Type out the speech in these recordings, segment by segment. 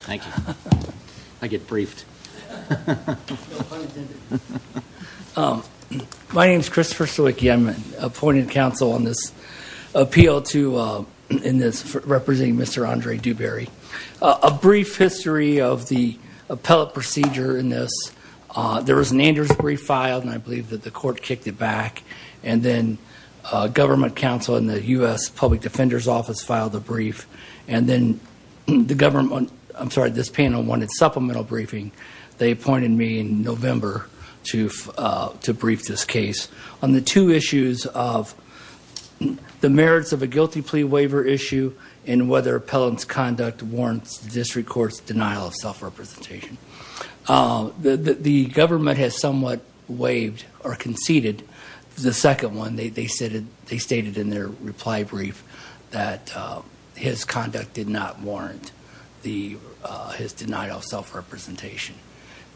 Thank you. I get briefed. My name is Christopher Stewick. I'm an appointed counsel on this appeal to, in this, representing Mr. Andre Dewberry. A brief history of the appellate procedure in this. There was an Andrews brief filed, and I believe that the court kicked it back. And then government counsel in the U.S. Public Defender's Office filed the brief. And then the government, I'm sorry, this panel wanted supplemental briefing. They appointed me in November to brief this case on the two issues of the merits of a guilty plea waiver issue and whether appellant's conduct warrants the district court's denial of self-representation. The government has somewhat waived or conceded the second one. They stated in their reply brief that his conduct did not warrant his denial of self-representation.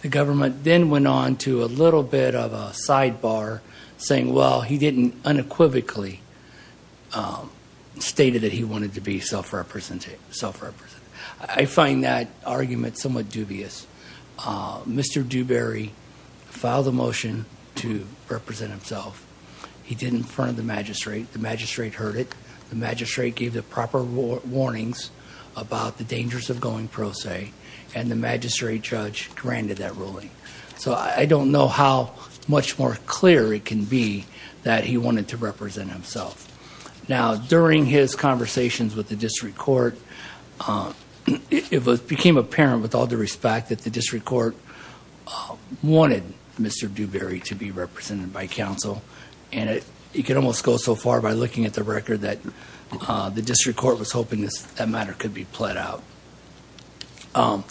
The government then went on to a little bit of a sidebar saying, well, he didn't unequivocally stated that he wanted to be self-represented. I find that argument somewhat dubious. Mr. Dewberry filed a motion to represent himself. He did in front of the magistrate. The magistrate heard it. The magistrate gave the proper warnings about the dangers of going pro se, and the magistrate judge granted that ruling. So I don't know how much more clear it can be that he wanted to represent himself. Now, during his conversations with the district court, it became apparent with all due respect that the district court wanted Mr. Dewberry to be represented by counsel. And you can almost go so far by looking at the record that the district court was hoping that matter could be plead out. And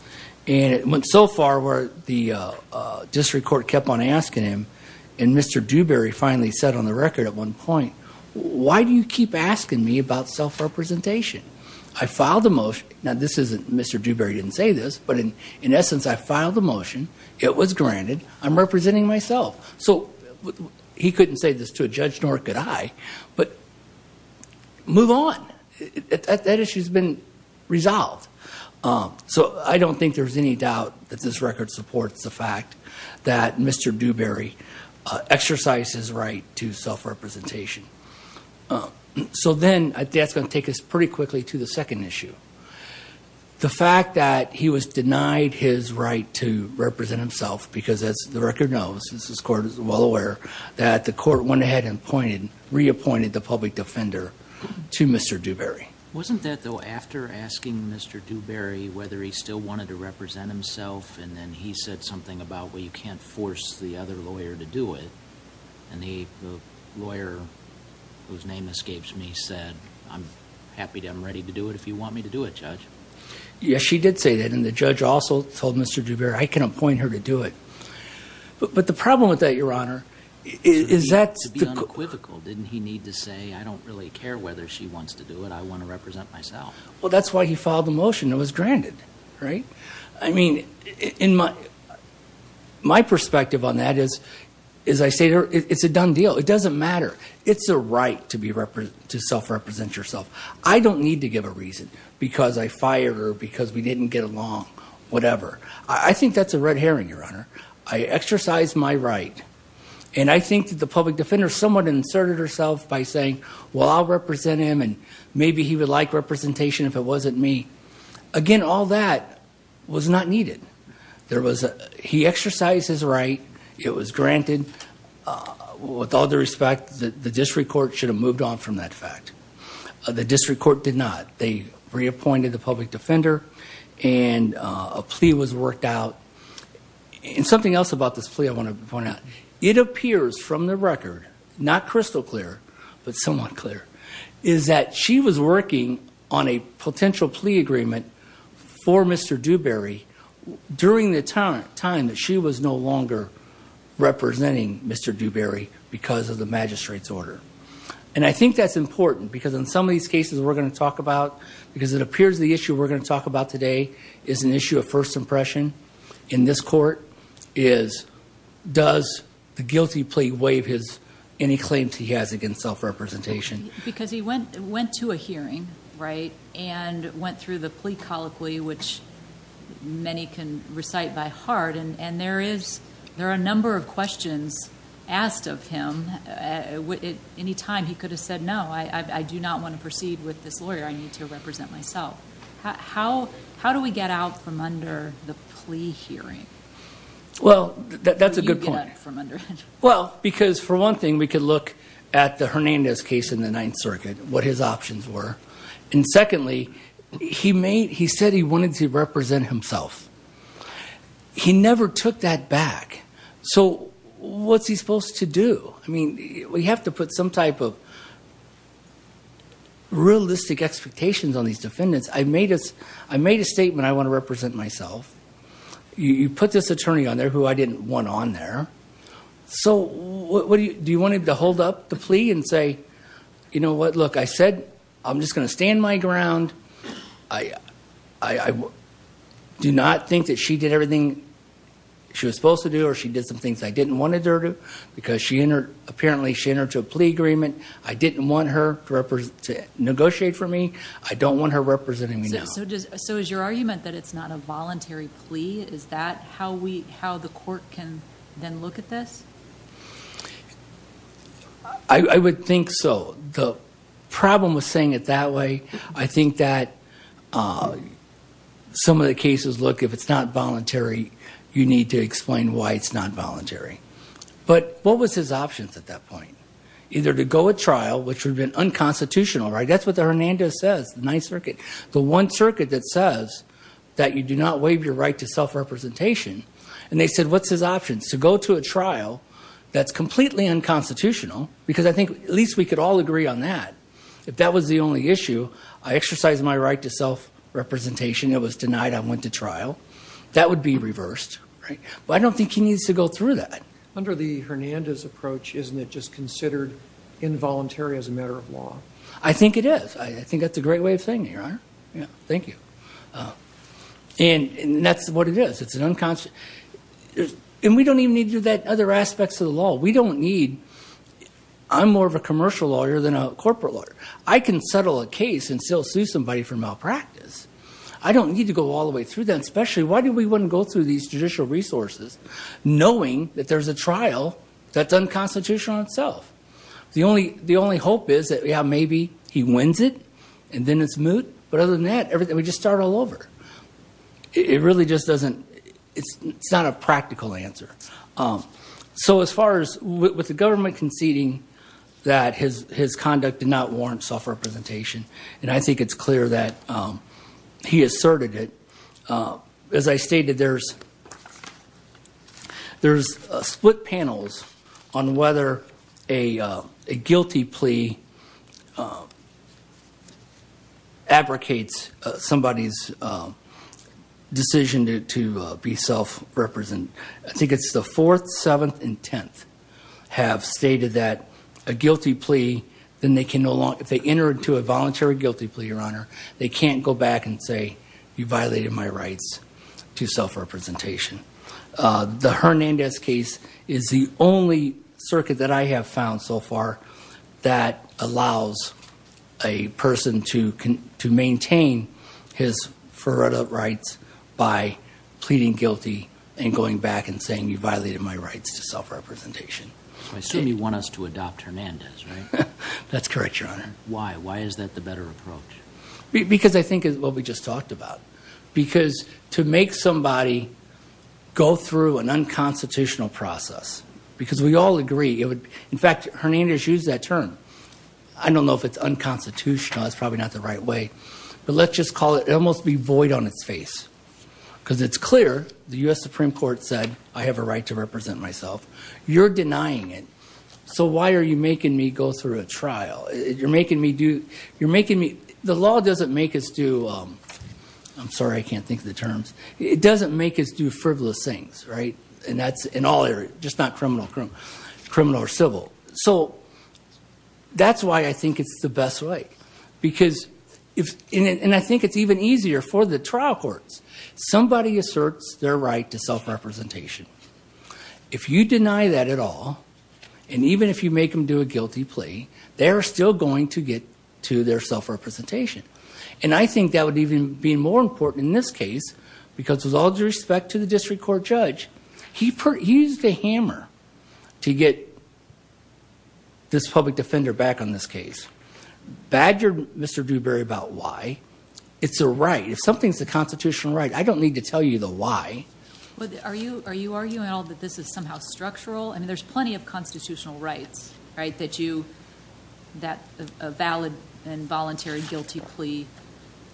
it went so far where the district court kept on asking him, and Mr. Dewberry finally said on the record at one point, why do you keep asking me about self-representation? I filed a motion. Now, Mr. Dewberry didn't say this, but in essence, I filed a motion. It was granted. I'm representing myself. So he couldn't say this to a judge, nor could I. But move on. That issue's been resolved. So I don't think there's any doubt that this record supports the fact that Mr. Dewberry exercised his right to self-representation. So then I think that's going to take us pretty far into the second issue. The fact that he was denied his right to represent himself, because as the record knows, this court is well aware, that the court went ahead and reappointed the public defender to Mr. Dewberry. Wasn't that, though, after asking Mr. Dewberry whether he still wanted to represent himself, and then he said something about, well, you can't force the other lawyer to do it. And the lawyer, whose name escapes me, said, I'm happy to, I'm ready to do it if you want me to do it, Judge. Yes, she did say that. And the judge also told Mr. Dewberry, I can appoint her to do it. But the problem with that, Your Honor, is that... To be unequivocal, didn't he need to say, I don't really care whether she wants to do it. I want to represent myself. Well, that's why he filed the motion. It was granted, right? I mean, my perspective on that is, as I say, it's a done deal. It doesn't matter. It's a right to self-represent yourself. I don't need to give a reason, because I fired her, because we didn't get along, whatever. I think that's a red herring, Your Honor. I exercised my right. And I think that the public defender somewhat inserted herself by saying, well, I'll represent him, and maybe he would like representation if it wasn't me. Again, all that was not needed. He exercised his right. It was granted. With all due respect, the district court should have moved on from that fact. The district court did not. They reappointed the public defender, and a plea was worked out. And something else about this plea I want to point out. It appears from the record, not crystal clear, but somewhat clear, is that she was working on a potential plea agreement for Mr. Dewberry during the time that she was no longer representing Mr. Dewberry because of magistrate's order. And I think that's important, because in some of these cases we're going to talk about, because it appears the issue we're going to talk about today is an issue of first impression in this court, is does the guilty plea waive any claims he has against self-representation? Because he went to a hearing, right, and went through the plea colloquy, which many can recite by heart, and there are a number of questions asked of him. Any time he could have said, no, I do not want to proceed with this lawyer. I need to represent myself. How do we get out from under the plea hearing? Well, that's a good point. Well, because for one thing, we could look at the Hernandez case in the Ninth Circuit, what his options were. And secondly, he said he wanted to represent himself. He never took that back. So what's he supposed to do? I mean, we have to put some type of realistic expectations on these defendants. I made a statement I want to represent myself. You put this attorney on there who I didn't want on there. So do you want him to hold up the plea and say, you know what, look, I said, I'm just going to stand my ground. I do not think that she did everything she was supposed to do, or she did some things I didn't want her to, because apparently she entered into a plea agreement. I didn't want her to negotiate for me. I don't want her representing me now. So is your argument that it's not a voluntary plea? Is that how the court can then look at this? I would think so. The problem with saying it that way, I think that some of the cases, look, if it's not voluntary, you need to explain why it's not voluntary. But what was his options at that point? Either to go at trial, which would have been unconstitutional, right? That's what the Hernandez says, the Ninth Circuit. The one circuit that says that you do not waive your right to self-representation. And they said, what's his options? To go to a trial that's completely unconstitutional, because I think at least we could all agree on that. If that was the only issue, I exercised my right to self-representation. It was denied. I went to trial. That would be reversed, right? But I don't think he needs to go through that. Under the Hernandez approach, isn't it just considered involuntary as a matter of law? I think it is. I think that's a great way of saying it, Your Honor. Thank you. And that's what it is. And we don't even need to do that other aspects of the law. We don't need, I'm more of a commercial lawyer than a corporate lawyer. I can settle a case and still sue somebody for malpractice. I don't need to go all the way through that. Especially, why do we want to go through these judicial resources knowing that there's a trial that's unconstitutional in itself? The only hope is that, yeah, maybe he wins it and then it's moot, but other than that, we just start all over. It really just doesn't, it's not a practical answer. So as far as, with the government conceding that his conduct did not warrant self-representation, and I think it's clear that he asserted it. As I stated, there's split panels on whether a guilty plea fabricates somebody's decision to be self-representative. I think it's the fourth, seventh, and tenth have stated that a guilty plea, then they can no longer, if they enter into a voluntary guilty plea, Your Honor, they can't go back and say, you violated my rights to self-representation. The Hernandez case is the only circuit that I have found so far that allows a person to maintain his forerunner rights by pleading guilty and going back and saying, you violated my rights to self-representation. I assume you want us to adopt Hernandez, right? That's correct, Your Honor. Why? Why is that the better approach? Because I think it's what we just talked about. Because to make somebody go through an unconstitutional process, because we all agree, it would, in fact, Hernandez used that term. I don't know if it's unconstitutional. That's probably not the right way. But let's just call it, it would almost be void on its face. Because it's clear, the U.S. Supreme Court said, I have a right to represent myself. You're denying it. So why are you making me go through a trial? You're making me do, you're making me, the law doesn't make us do, I'm sorry, I can't think of the terms. It doesn't make us do frivolous things, right? In all areas, just not criminal or civil. So that's why I think it's the best way. And I think it's even easier for the trial courts. Somebody asserts their right to self-representation. If you deny that at all, and even if you make them do a guilty plea, they're still going to get to their self-representation. And I think that would even be more important in this case, because with all due respect to the district court judge, he used a hammer to get this public defender back on this case. Badgered Mr. Dewberry about why. It's a right. If something's a constitutional right, I don't need to tell you the why. Are you arguing at all that this is somehow structural? I mean, there's plenty of constitutional rights, right? That a valid and voluntary guilty plea,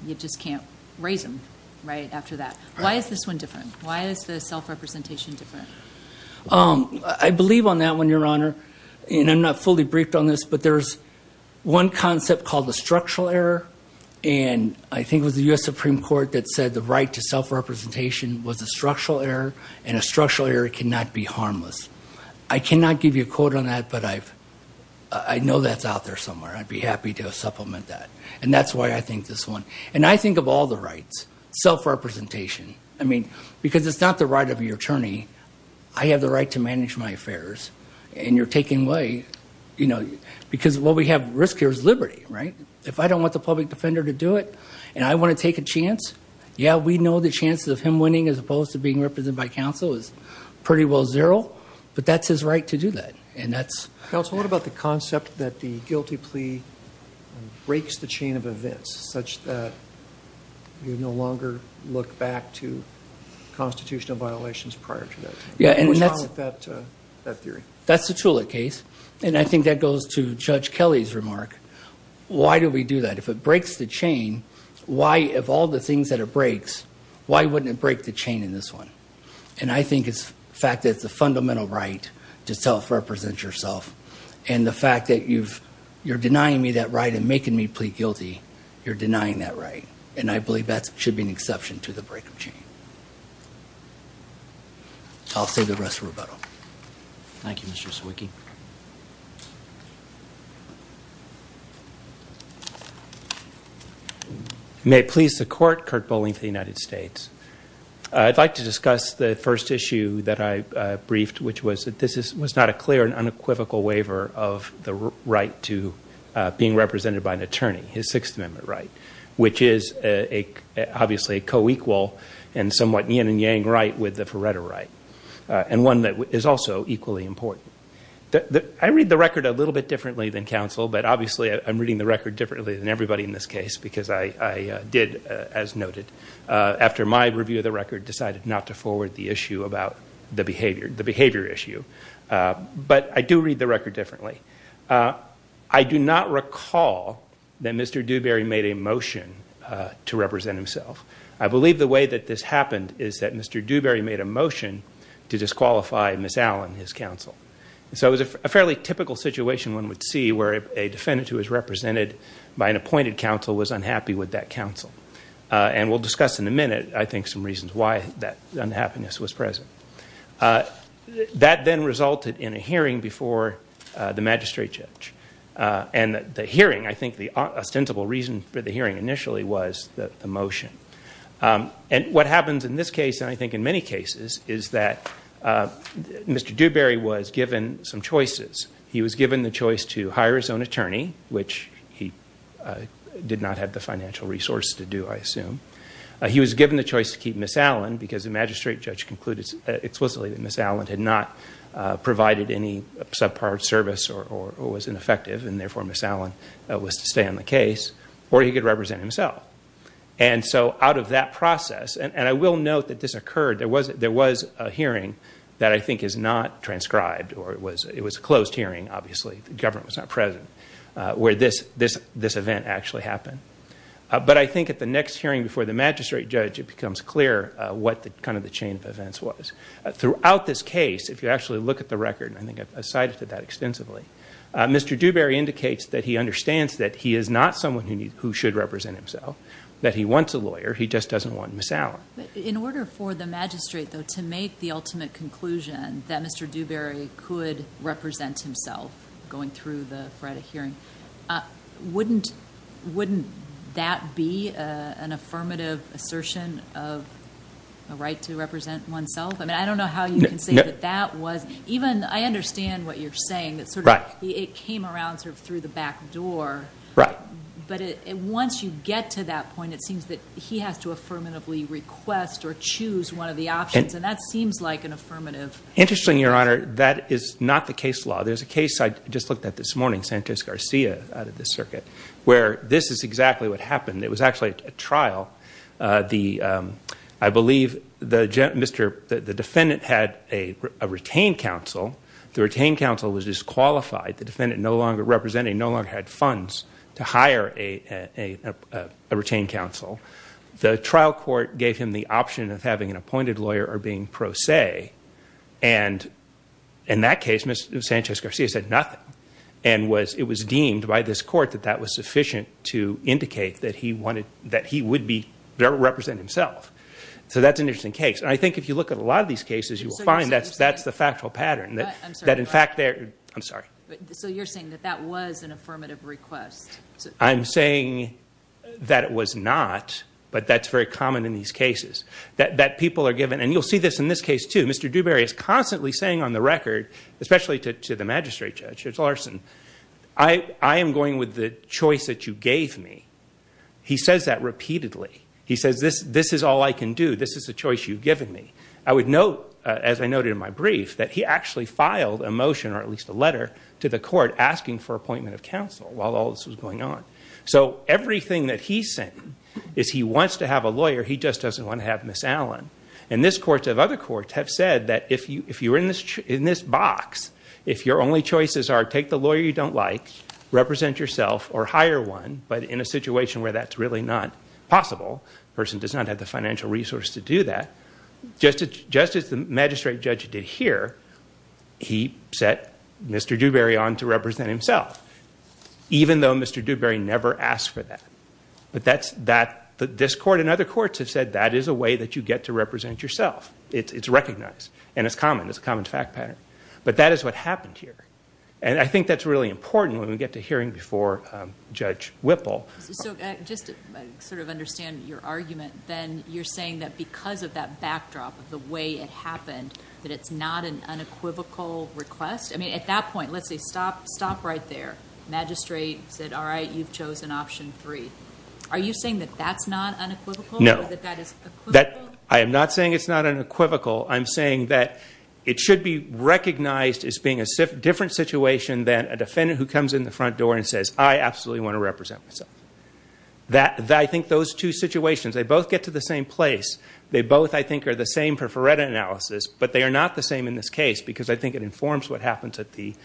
you just can't raise them right after that. Why is this one different? Why is the self-representation different? I believe on that one, Your Honor. And I'm not fully briefed on this, but there's one concept called the structural error. And I think it was the U.S. Supreme Court that said the right to self-representation was a structural error, and a structural error cannot be harmless. I cannot give you a quote on that, but I know that's out there somewhere. I'd be happy to self-representation. I mean, because it's not the right of the attorney, I have the right to manage my affairs, and you're taking away, you know, because what we have at risk here is liberty, right? If I don't want the public defender to do it, and I want to take a chance, yeah, we know the chances of him winning as opposed to being represented by counsel is pretty well zero, but that's his right to do that. And that's... Counsel, what about the concept that the guilty plea breaks the chain of events such that you no longer look back to constitutional violations prior to that? What's wrong with that theory? That's the Tula case, and I think that goes to Judge Kelly's remark. Why do we do that? If it breaks the chain, why, of all the things that it breaks, why wouldn't it break the chain in this one? And I think it's the fact that it's a fundamental right to self-represent yourself, and the fact that you're denying me that right and making me plead guilty, you're denying that right, and I believe that should be an exception to the break of chain. I'll save the rest for rebuttal. Thank you, Mr. Sawicki. May it please the Court, Kurt Boling for the United States. I'd like to discuss the first waiver of the right to being represented by an attorney, his Sixth Amendment right, which is obviously a co-equal and somewhat yin and yang right with the Feretta right, and one that is also equally important. I read the record a little bit differently than counsel, but obviously I'm reading the record differently than everybody in this case because I did, as noted, after my review of the record decided not to forward the issue about the behavior issue. But I do read the record differently. I do not recall that Mr. Dewberry made a motion to represent himself. I believe the way that this happened is that Mr. Dewberry made a motion to disqualify Ms. Allen, his counsel. So it was a fairly typical situation one would see where a defendant who was represented by an appointed counsel was unhappy with that counsel, and we'll discuss in a minute, I think, some reasons why that unhappiness was present. That then resulted in a hearing before the magistrate judge, and the hearing, I think, the ostensible reason for the hearing initially was the motion. And what happens in this case, and I think in many cases, is that Mr. Dewberry was given some choices. He was given the choice to hire his own attorney, which he did not have the financial resource to do, I assume. He was given the choice to keep Ms. Allen because the magistrate judge concluded explicitly that Ms. Allen had not provided any subpar service or was ineffective, and therefore Ms. Allen was to stay on the case, or he could represent himself. And so out of that process, and I will note that this occurred, there was a hearing that I think is not transcribed, or it was a closed hearing, obviously, the government was not present, where this event actually happened. But I think at the next hearing before the magistrate judge, it becomes clear what kind of the chain of events was. Throughout this case, if you actually look at the record, and I think I've cited that extensively, Mr. Dewberry indicates that he understands that he is not someone who should represent himself, that he wants a lawyer, he just doesn't want Ms. Allen. In order for the magistrate, though, to make the ultimate conclusion that Mr. Dewberry could represent himself going through the hearing, wouldn't that be an affirmative assertion of a right to represent oneself? I mean, I don't know how you can say that that was, even I understand what you're saying, that sort of it came around sort of through the back door. Right. But once you get to that point, it seems that he has to affirmatively request or choose one of the options, and that seems like an affirmative. Interesting, Your Honor, that is not the case law. There's a case I just looked at this morning, Sanchez-Garcia, out of the circuit, where this is exactly what happened. It was actually a trial. I believe the defendant had a retained counsel. The retained counsel was disqualified. The defendant, representing, no longer had funds to hire a retained counsel. The trial court gave him the option of having an appointed lawyer or being pro se. In that case, Ms. Sanchez-Garcia said nothing. It was deemed by this court that that was sufficient to indicate that he would represent himself. That's an interesting case. I think if you look at a lot of these cases, you will find that that's the factual pattern. I'm sorry. So you're saying that that was an affirmative request? I'm saying that it was not, but that's very common in these cases. And you'll see this in this case, too. Mr. Dewberry is constantly saying on the record, especially to the magistrate judge, Judge Larson, I am going with the choice that you gave me. He says that repeatedly. He says, this is all I can do. This is the choice you've given me. I would note, as I noted in my brief, that he actually filed a motion, or at least a letter, to the court asking for appointment of counsel while all this was going on. So everything that he's saying is he wants to have a lawyer. He just doesn't want to have Ms. Allen. And this court of other courts have said that if you're in this box, if your only choices are take the lawyer you don't like, represent yourself, or hire one, but in a situation where that's really not possible, the person does not have the financial resource to do that, just as the on to represent himself, even though Mr. Dewberry never asked for that. But this court and other courts have said that is a way that you get to represent yourself. It's recognized. And it's common. It's a common fact pattern. But that is what happened here. And I think that's really important when we get to hearing before Judge Whipple. So just to sort of understand your argument, then you're saying that because of that backdrop of the way it happened, that it's not an unequivocal request? I mean, at that point, let's say stop right there. Magistrate said, all right, you've chosen option three. Are you saying that that's not unequivocal? No. I am not saying it's not unequivocal. I'm saying that it should be recognized as being a different situation than a defendant who comes in the front door and says, I absolutely want to represent myself. I think those two situations, they both get to the same place. They both, I think, are the same for Ferretta analysis. But they are not the same in this case, because I think it informs what happens at the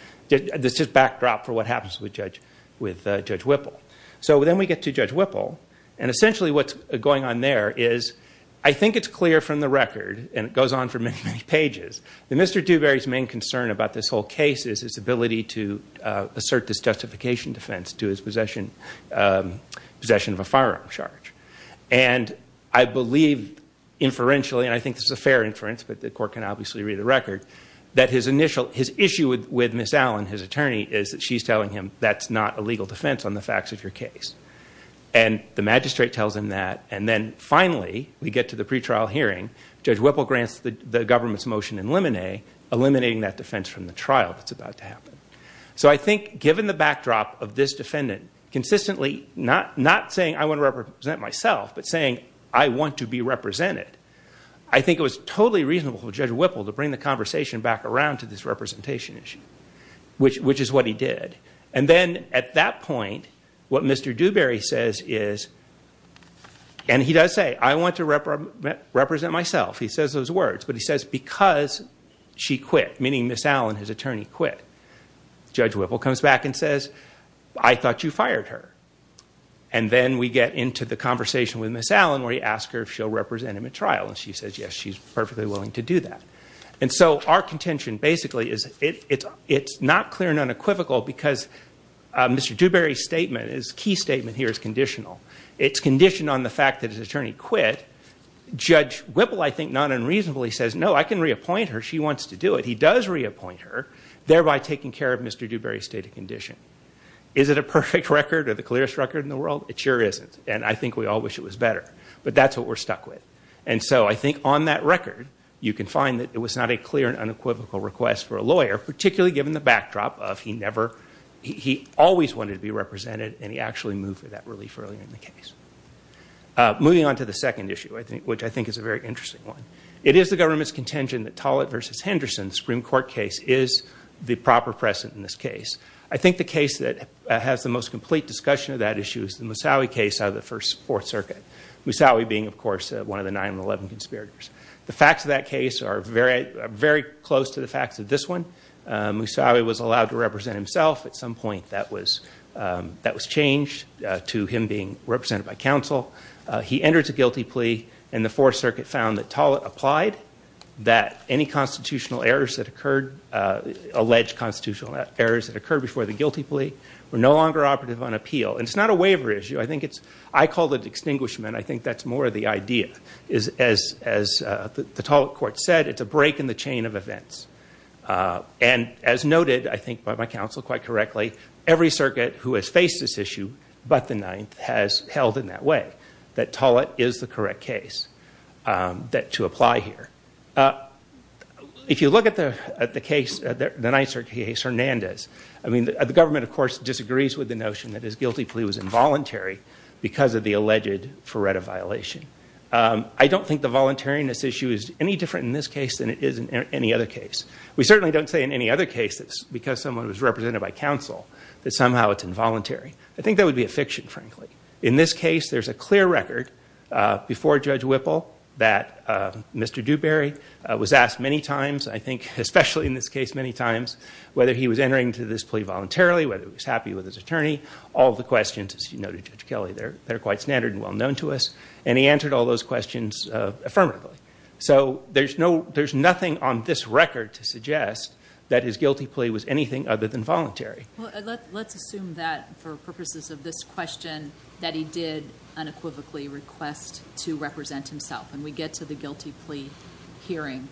backdrop for what happens with Judge Whipple. So then we get to Judge Whipple. And essentially, what's going on there is I think it's clear from the record, and it goes on for many, many pages, that Mr. Dewberry's main concern about this whole case is his ability to assert this justification defense to his possession of a firearm charge. And I believe, inferentially, and I think this is a fair inference, but the court can obviously read the record, that his issue with Ms. Allen, his attorney, is that she's telling him that's not a legal defense on the facts of your case. And the magistrate tells him that. And then finally, we get to the pretrial hearing. Judge Whipple grants the government's motion in limine eliminating that defense from the trial that's about to happen. So I think given the backdrop of this defendant consistently not saying, I want to represent myself, but saying, I want to be represented, I think it was totally reasonable for Judge Whipple to bring the conversation back around to this representation issue, which is what he did. And then at that point, what Mr. Dewberry says is, and he does say, I want to represent myself. He says those words. But he says, because she quit, meaning Ms. Allen, his attorney, quit. Judge Whipple comes back and says, I thought you fired her. And then we get into the conversation with Ms. Allen, where you ask her if she'll represent him at trial. And she says, yes, she's perfectly willing to do that. And so our contention basically is, it's not clear and unequivocal because Mr. Dewberry's statement, his key statement here, is conditional. It's conditioned on the fact that his attorney quit. Judge Whipple, I think, not unreasonably says, no, I can reappoint her. She wants to do it. He does reappoint her, thereby taking care of Mr. Dewberry's state of condition. Is it a perfect record or the clearest record in the world? It sure isn't. And I think we all wish it was better. But that's what we're stuck with. And so I think on that record, you can find that it was not a clear and unequivocal request for a lawyer, particularly given the backdrop of he always wanted to be represented, and he actually moved for that relief earlier in the case. Moving on to the second issue, which I think is a very interesting one. It is the government's Henderson Supreme Court case is the proper precedent in this case. I think the case that has the most complete discussion of that issue is the Musawi case out of the First Fourth Circuit. Musawi being, of course, one of the 9-11 conspirators. The facts of that case are very close to the facts of this one. Musawi was allowed to represent himself. At some point, that was changed to him being represented by counsel. He entered a guilty plea, and the Fourth Circuit found that Tollett applied, that any constitutional errors that occurred, alleged constitutional errors that occurred before the guilty plea were no longer operative on appeal. And it's not a waiver issue. I think it's, I call it extinguishment. I think that's more the idea. As the Tollett court said, it's a break in the chain of events. And as noted, I think by my counsel quite correctly, every circuit who has faced this issue but the Ninth has held in that way, that Tollett is the correct case to apply here. If you look at the case, the Nicer case, Hernandez, I mean, the government, of course, disagrees with the notion that his guilty plea was involuntary because of the alleged Ferretta violation. I don't think the voluntariness issue is any different in this case than it is in any other case. We certainly don't say in any other cases, because someone was represented by counsel, that somehow it's involuntary. I think that would be a fiction, frankly. In this case, there's a clear record before Judge Whipple that Mr. Dewberry was asked many times, I think, especially in this case, many times, whether he was entering to this plea voluntarily, whether he was happy with his attorney, all the questions, as you noted, Judge Kelly, they're quite standard and well known to us. And he answered all those questions affirmatively. So there's nothing on this record to suggest that his guilty plea was anything other than voluntary. Well, let's assume that, for purposes of this question, that he did unequivocally request to represent himself. And we get to the guilty plea hearing.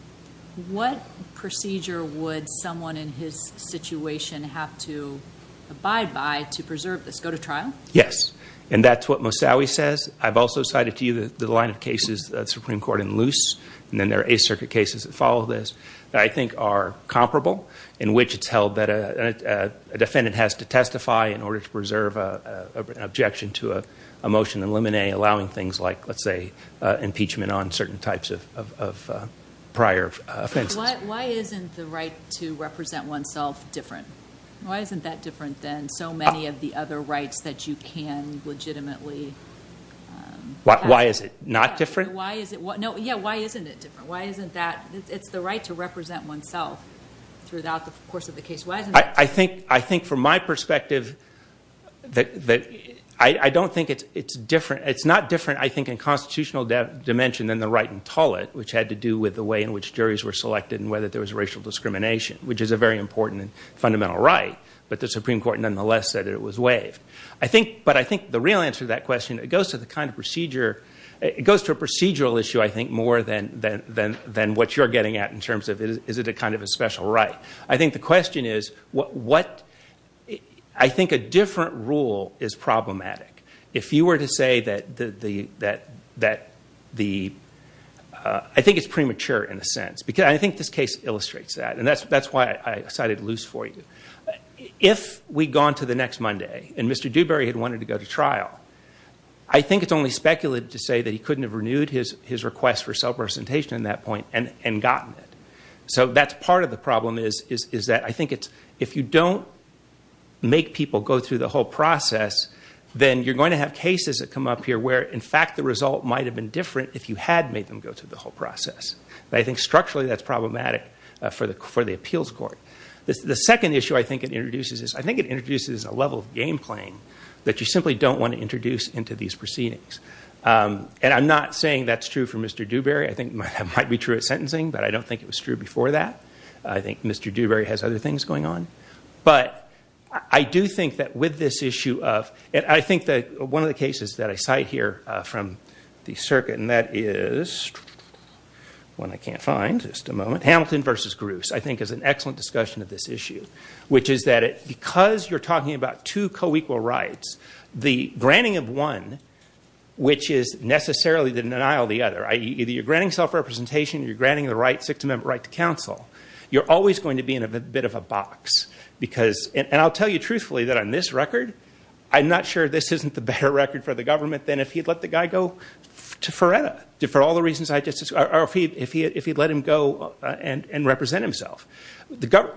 What procedure would someone in his situation have to abide by to preserve this? Go to trial? Yes. And that's what Mosawi says. I've also cited to you the line of cases of the Supreme Court in Luce, and then there are Eighth Circuit cases that follow this, that I think are comparable, in which it's held that a defendant has to testify in order to preserve an objection to a motion in limine, allowing things like, let's say, impeachment on certain types of prior offenses. Why isn't the right to represent oneself different? Why isn't that different than so many of the other rights that you can legitimately... Why is it not different? Why is it... No, yeah, why isn't it different? Why isn't that... It's the right to represent oneself throughout the course of the case. Why isn't it... I think, from my perspective, I don't think it's different. It's not different, I think, in constitutional dimension than the right in Tullett, which had to do with the way in which juries were selected and whether there was racial discrimination, which is a very important fundamental right. But the Supreme Court, nonetheless, said it was waived. But I think the real answer to that question, it goes to the kind of procedure... It goes to a procedural issue, I think, more than what you're getting at in terms of, is it a kind of a special right? I think the question is, what... I think a different rule is problematic. If you were to say that the... I think it's premature, in a sense. I think this case illustrates that. And that's why I decided to lose for you. If we'd gone to the next Monday and Mr. Dewberry had wanted to go to trial, I think it's only speculative to say that he couldn't have renewed his request for self-representation at that point and gotten it. So that's part of the problem, is that I think it's... If you don't make people go through the whole process, then you're going to have cases that come up here where, in fact, the result might have been different if you had made them go through the whole process. But I think, structurally, that's problematic for the appeals court. The second issue I think it introduces is... I think it introduces a level of game playing that you simply don't want to introduce into these proceedings. And I'm not saying that's true for Mr. Dewberry. I think that might be true at sentencing, but I don't think it was true before that. I think Mr. Dewberry has other things going on. But I do think that with this issue of... And I think that one of the cases that I cite here from the circuit, and that is... One I can't find, just a moment. Hamilton versus Gruss, I think, is an excellent discussion of this issue, which is that because you're talking about two co-equal rights, the granting of one, which is necessarily the denial of the other, either you're granting self-representation, you're granting the right, Sixth Amendment right to counsel, you're always going to be in a bit of a box. Because... And I'll tell you truthfully that on this record, I'm not sure this isn't the better record for the government than if he'd let the guy go to Foreta, for all the reasons I mentioned, represent himself.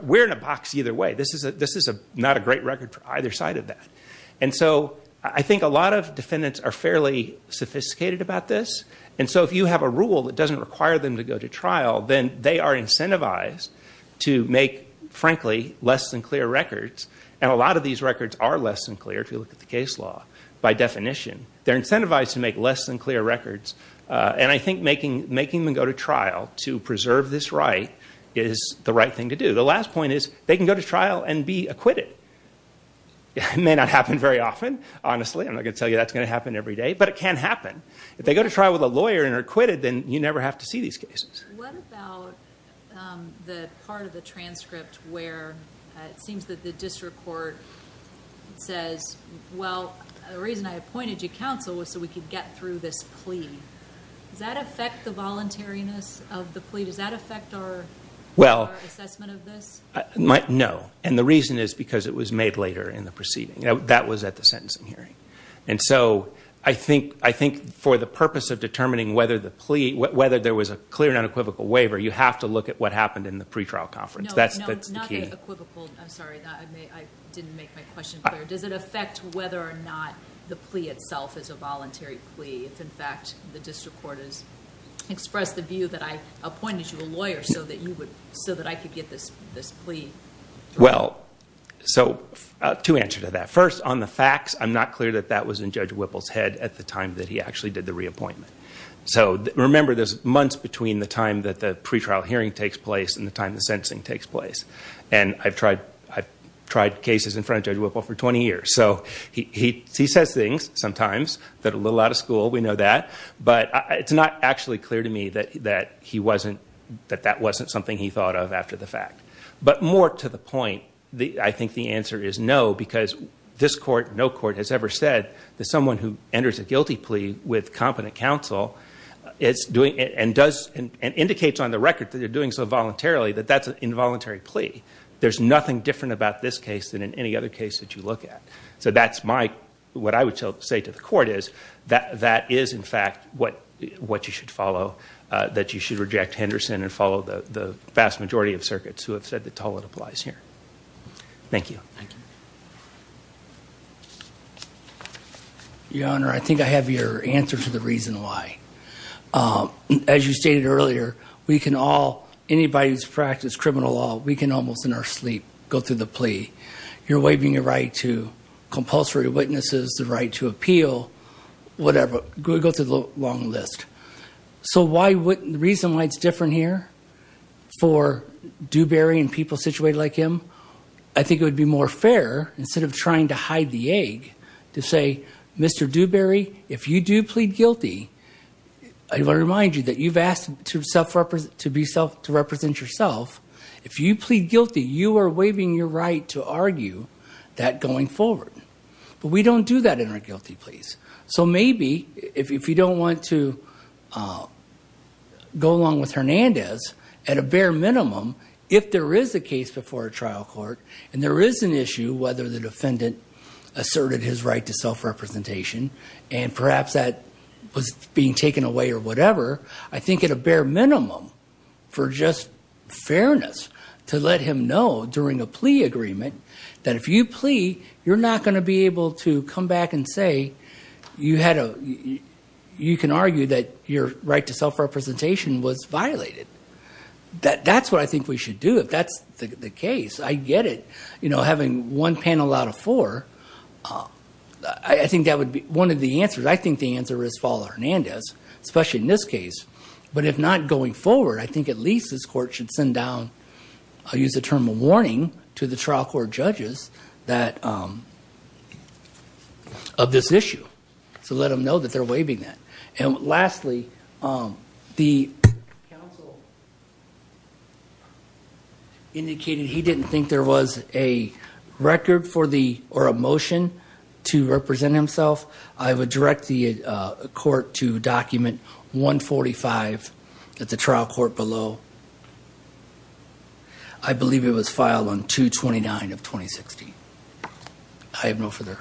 We're in a box either way. This is not a great record for either side of that. And so I think a lot of defendants are fairly sophisticated about this. And so if you have a rule that doesn't require them to go to trial, then they are incentivized to make, frankly, less than clear records. And a lot of these records are less than clear, if you look at the case law, by definition. They're incentivized to make less than clear records. And I think making them go to trial to preserve this right is the right thing to do. The last point is they can go to trial and be acquitted. It may not happen very often, honestly. I'm not going to tell you that's going to happen every day, but it can happen. If they go to trial with a lawyer and are acquitted, then you never have to see these cases. What about the part of the transcript where it seems that the district court says, well, the reason I appointed you counsel was so we could get through this plea. Does that affect the voluntariness of the plea? Does that affect our assessment of this? No. And the reason is because it was made later in the proceeding. That was at the sentencing hearing. And so I think for the purpose of determining whether there was a clear and unequivocal waiver, you have to look at what happened in the pretrial conference. That's the key. No, not the equivocal. I'm sorry. I didn't make my question clear. Does it affect whether or not the plea itself is a voluntary plea if, in fact, the district court has expressed the view that I appointed you a lawyer so that I could get this plea? Well, so two answers to that. First, on the facts, I'm not clear that that was in Judge Whipple's head at the time that he actually did the reappointment. So remember, there's months between the time that the pretrial hearing takes place and the time the sentencing takes place. And I've tried cases in front of Judge Whipple for 20 years. So he says things sometimes that are a little out of school. We know that. But it's not actually clear to me that that wasn't something he thought of after the fact. But more to the point, I think the answer is no, because this court, no court has ever said that someone who enters a guilty plea with competent counsel is doing and does and indicates on the record that they're doing so voluntarily that that's involuntary plea. There's nothing different about this case than in any other case that you look at. So that's my, what I would say to the court is that that is, in fact, what you should follow, that you should reject Henderson and follow the vast majority of circuits who have said that all that applies here. Thank you. Your Honor, I think I have your answer to the reason why. As you stated earlier, we can all, anybody who's practiced criminal law, we can almost in our sleep go through the plea. You're waiving your right to compulsory witnesses, the right to appeal, whatever, go through the long list. So why, the reason why it's different here for Dewberry and people situated like him, I think it would be more fair, instead of trying to hide the egg, to say, Mr. Dewberry, if you do plead guilty, I want to remind you that you've asked to self-represent, to be self, to represent yourself. If you plead guilty, you are waiving your right to argue that going forward. But we don't do that in our guilty pleas. So maybe if you don't want to go along with Hernandez, at a bare minimum, if there is a case before a trial court, and there is an issue whether the defendant asserted his right to self-representation, and perhaps that was being taken away or whatever, I think at a bare minimum, for just fairness, to let him know during a plea agreement, that if you plea, you're not going to be able to come back and say, you had a, you can argue that your right to self-representation was violated. That's what I think we should do. If that's the case, I get it, you know, having one panel out of four, I think that would be one of the answers. I think the answer is follow Hernandez, especially in this case. But if not going forward, I think at least this court should send down, I'll use the term of warning, to the trial court judges that, of this issue. So let them know that they're waiving that. And lastly, the counsel indicated he didn't think there was a record for the, or a motion to represent himself. I would direct the court to document 145 at the trial court below. I believe it was filed on 229 of 2016. I have no further.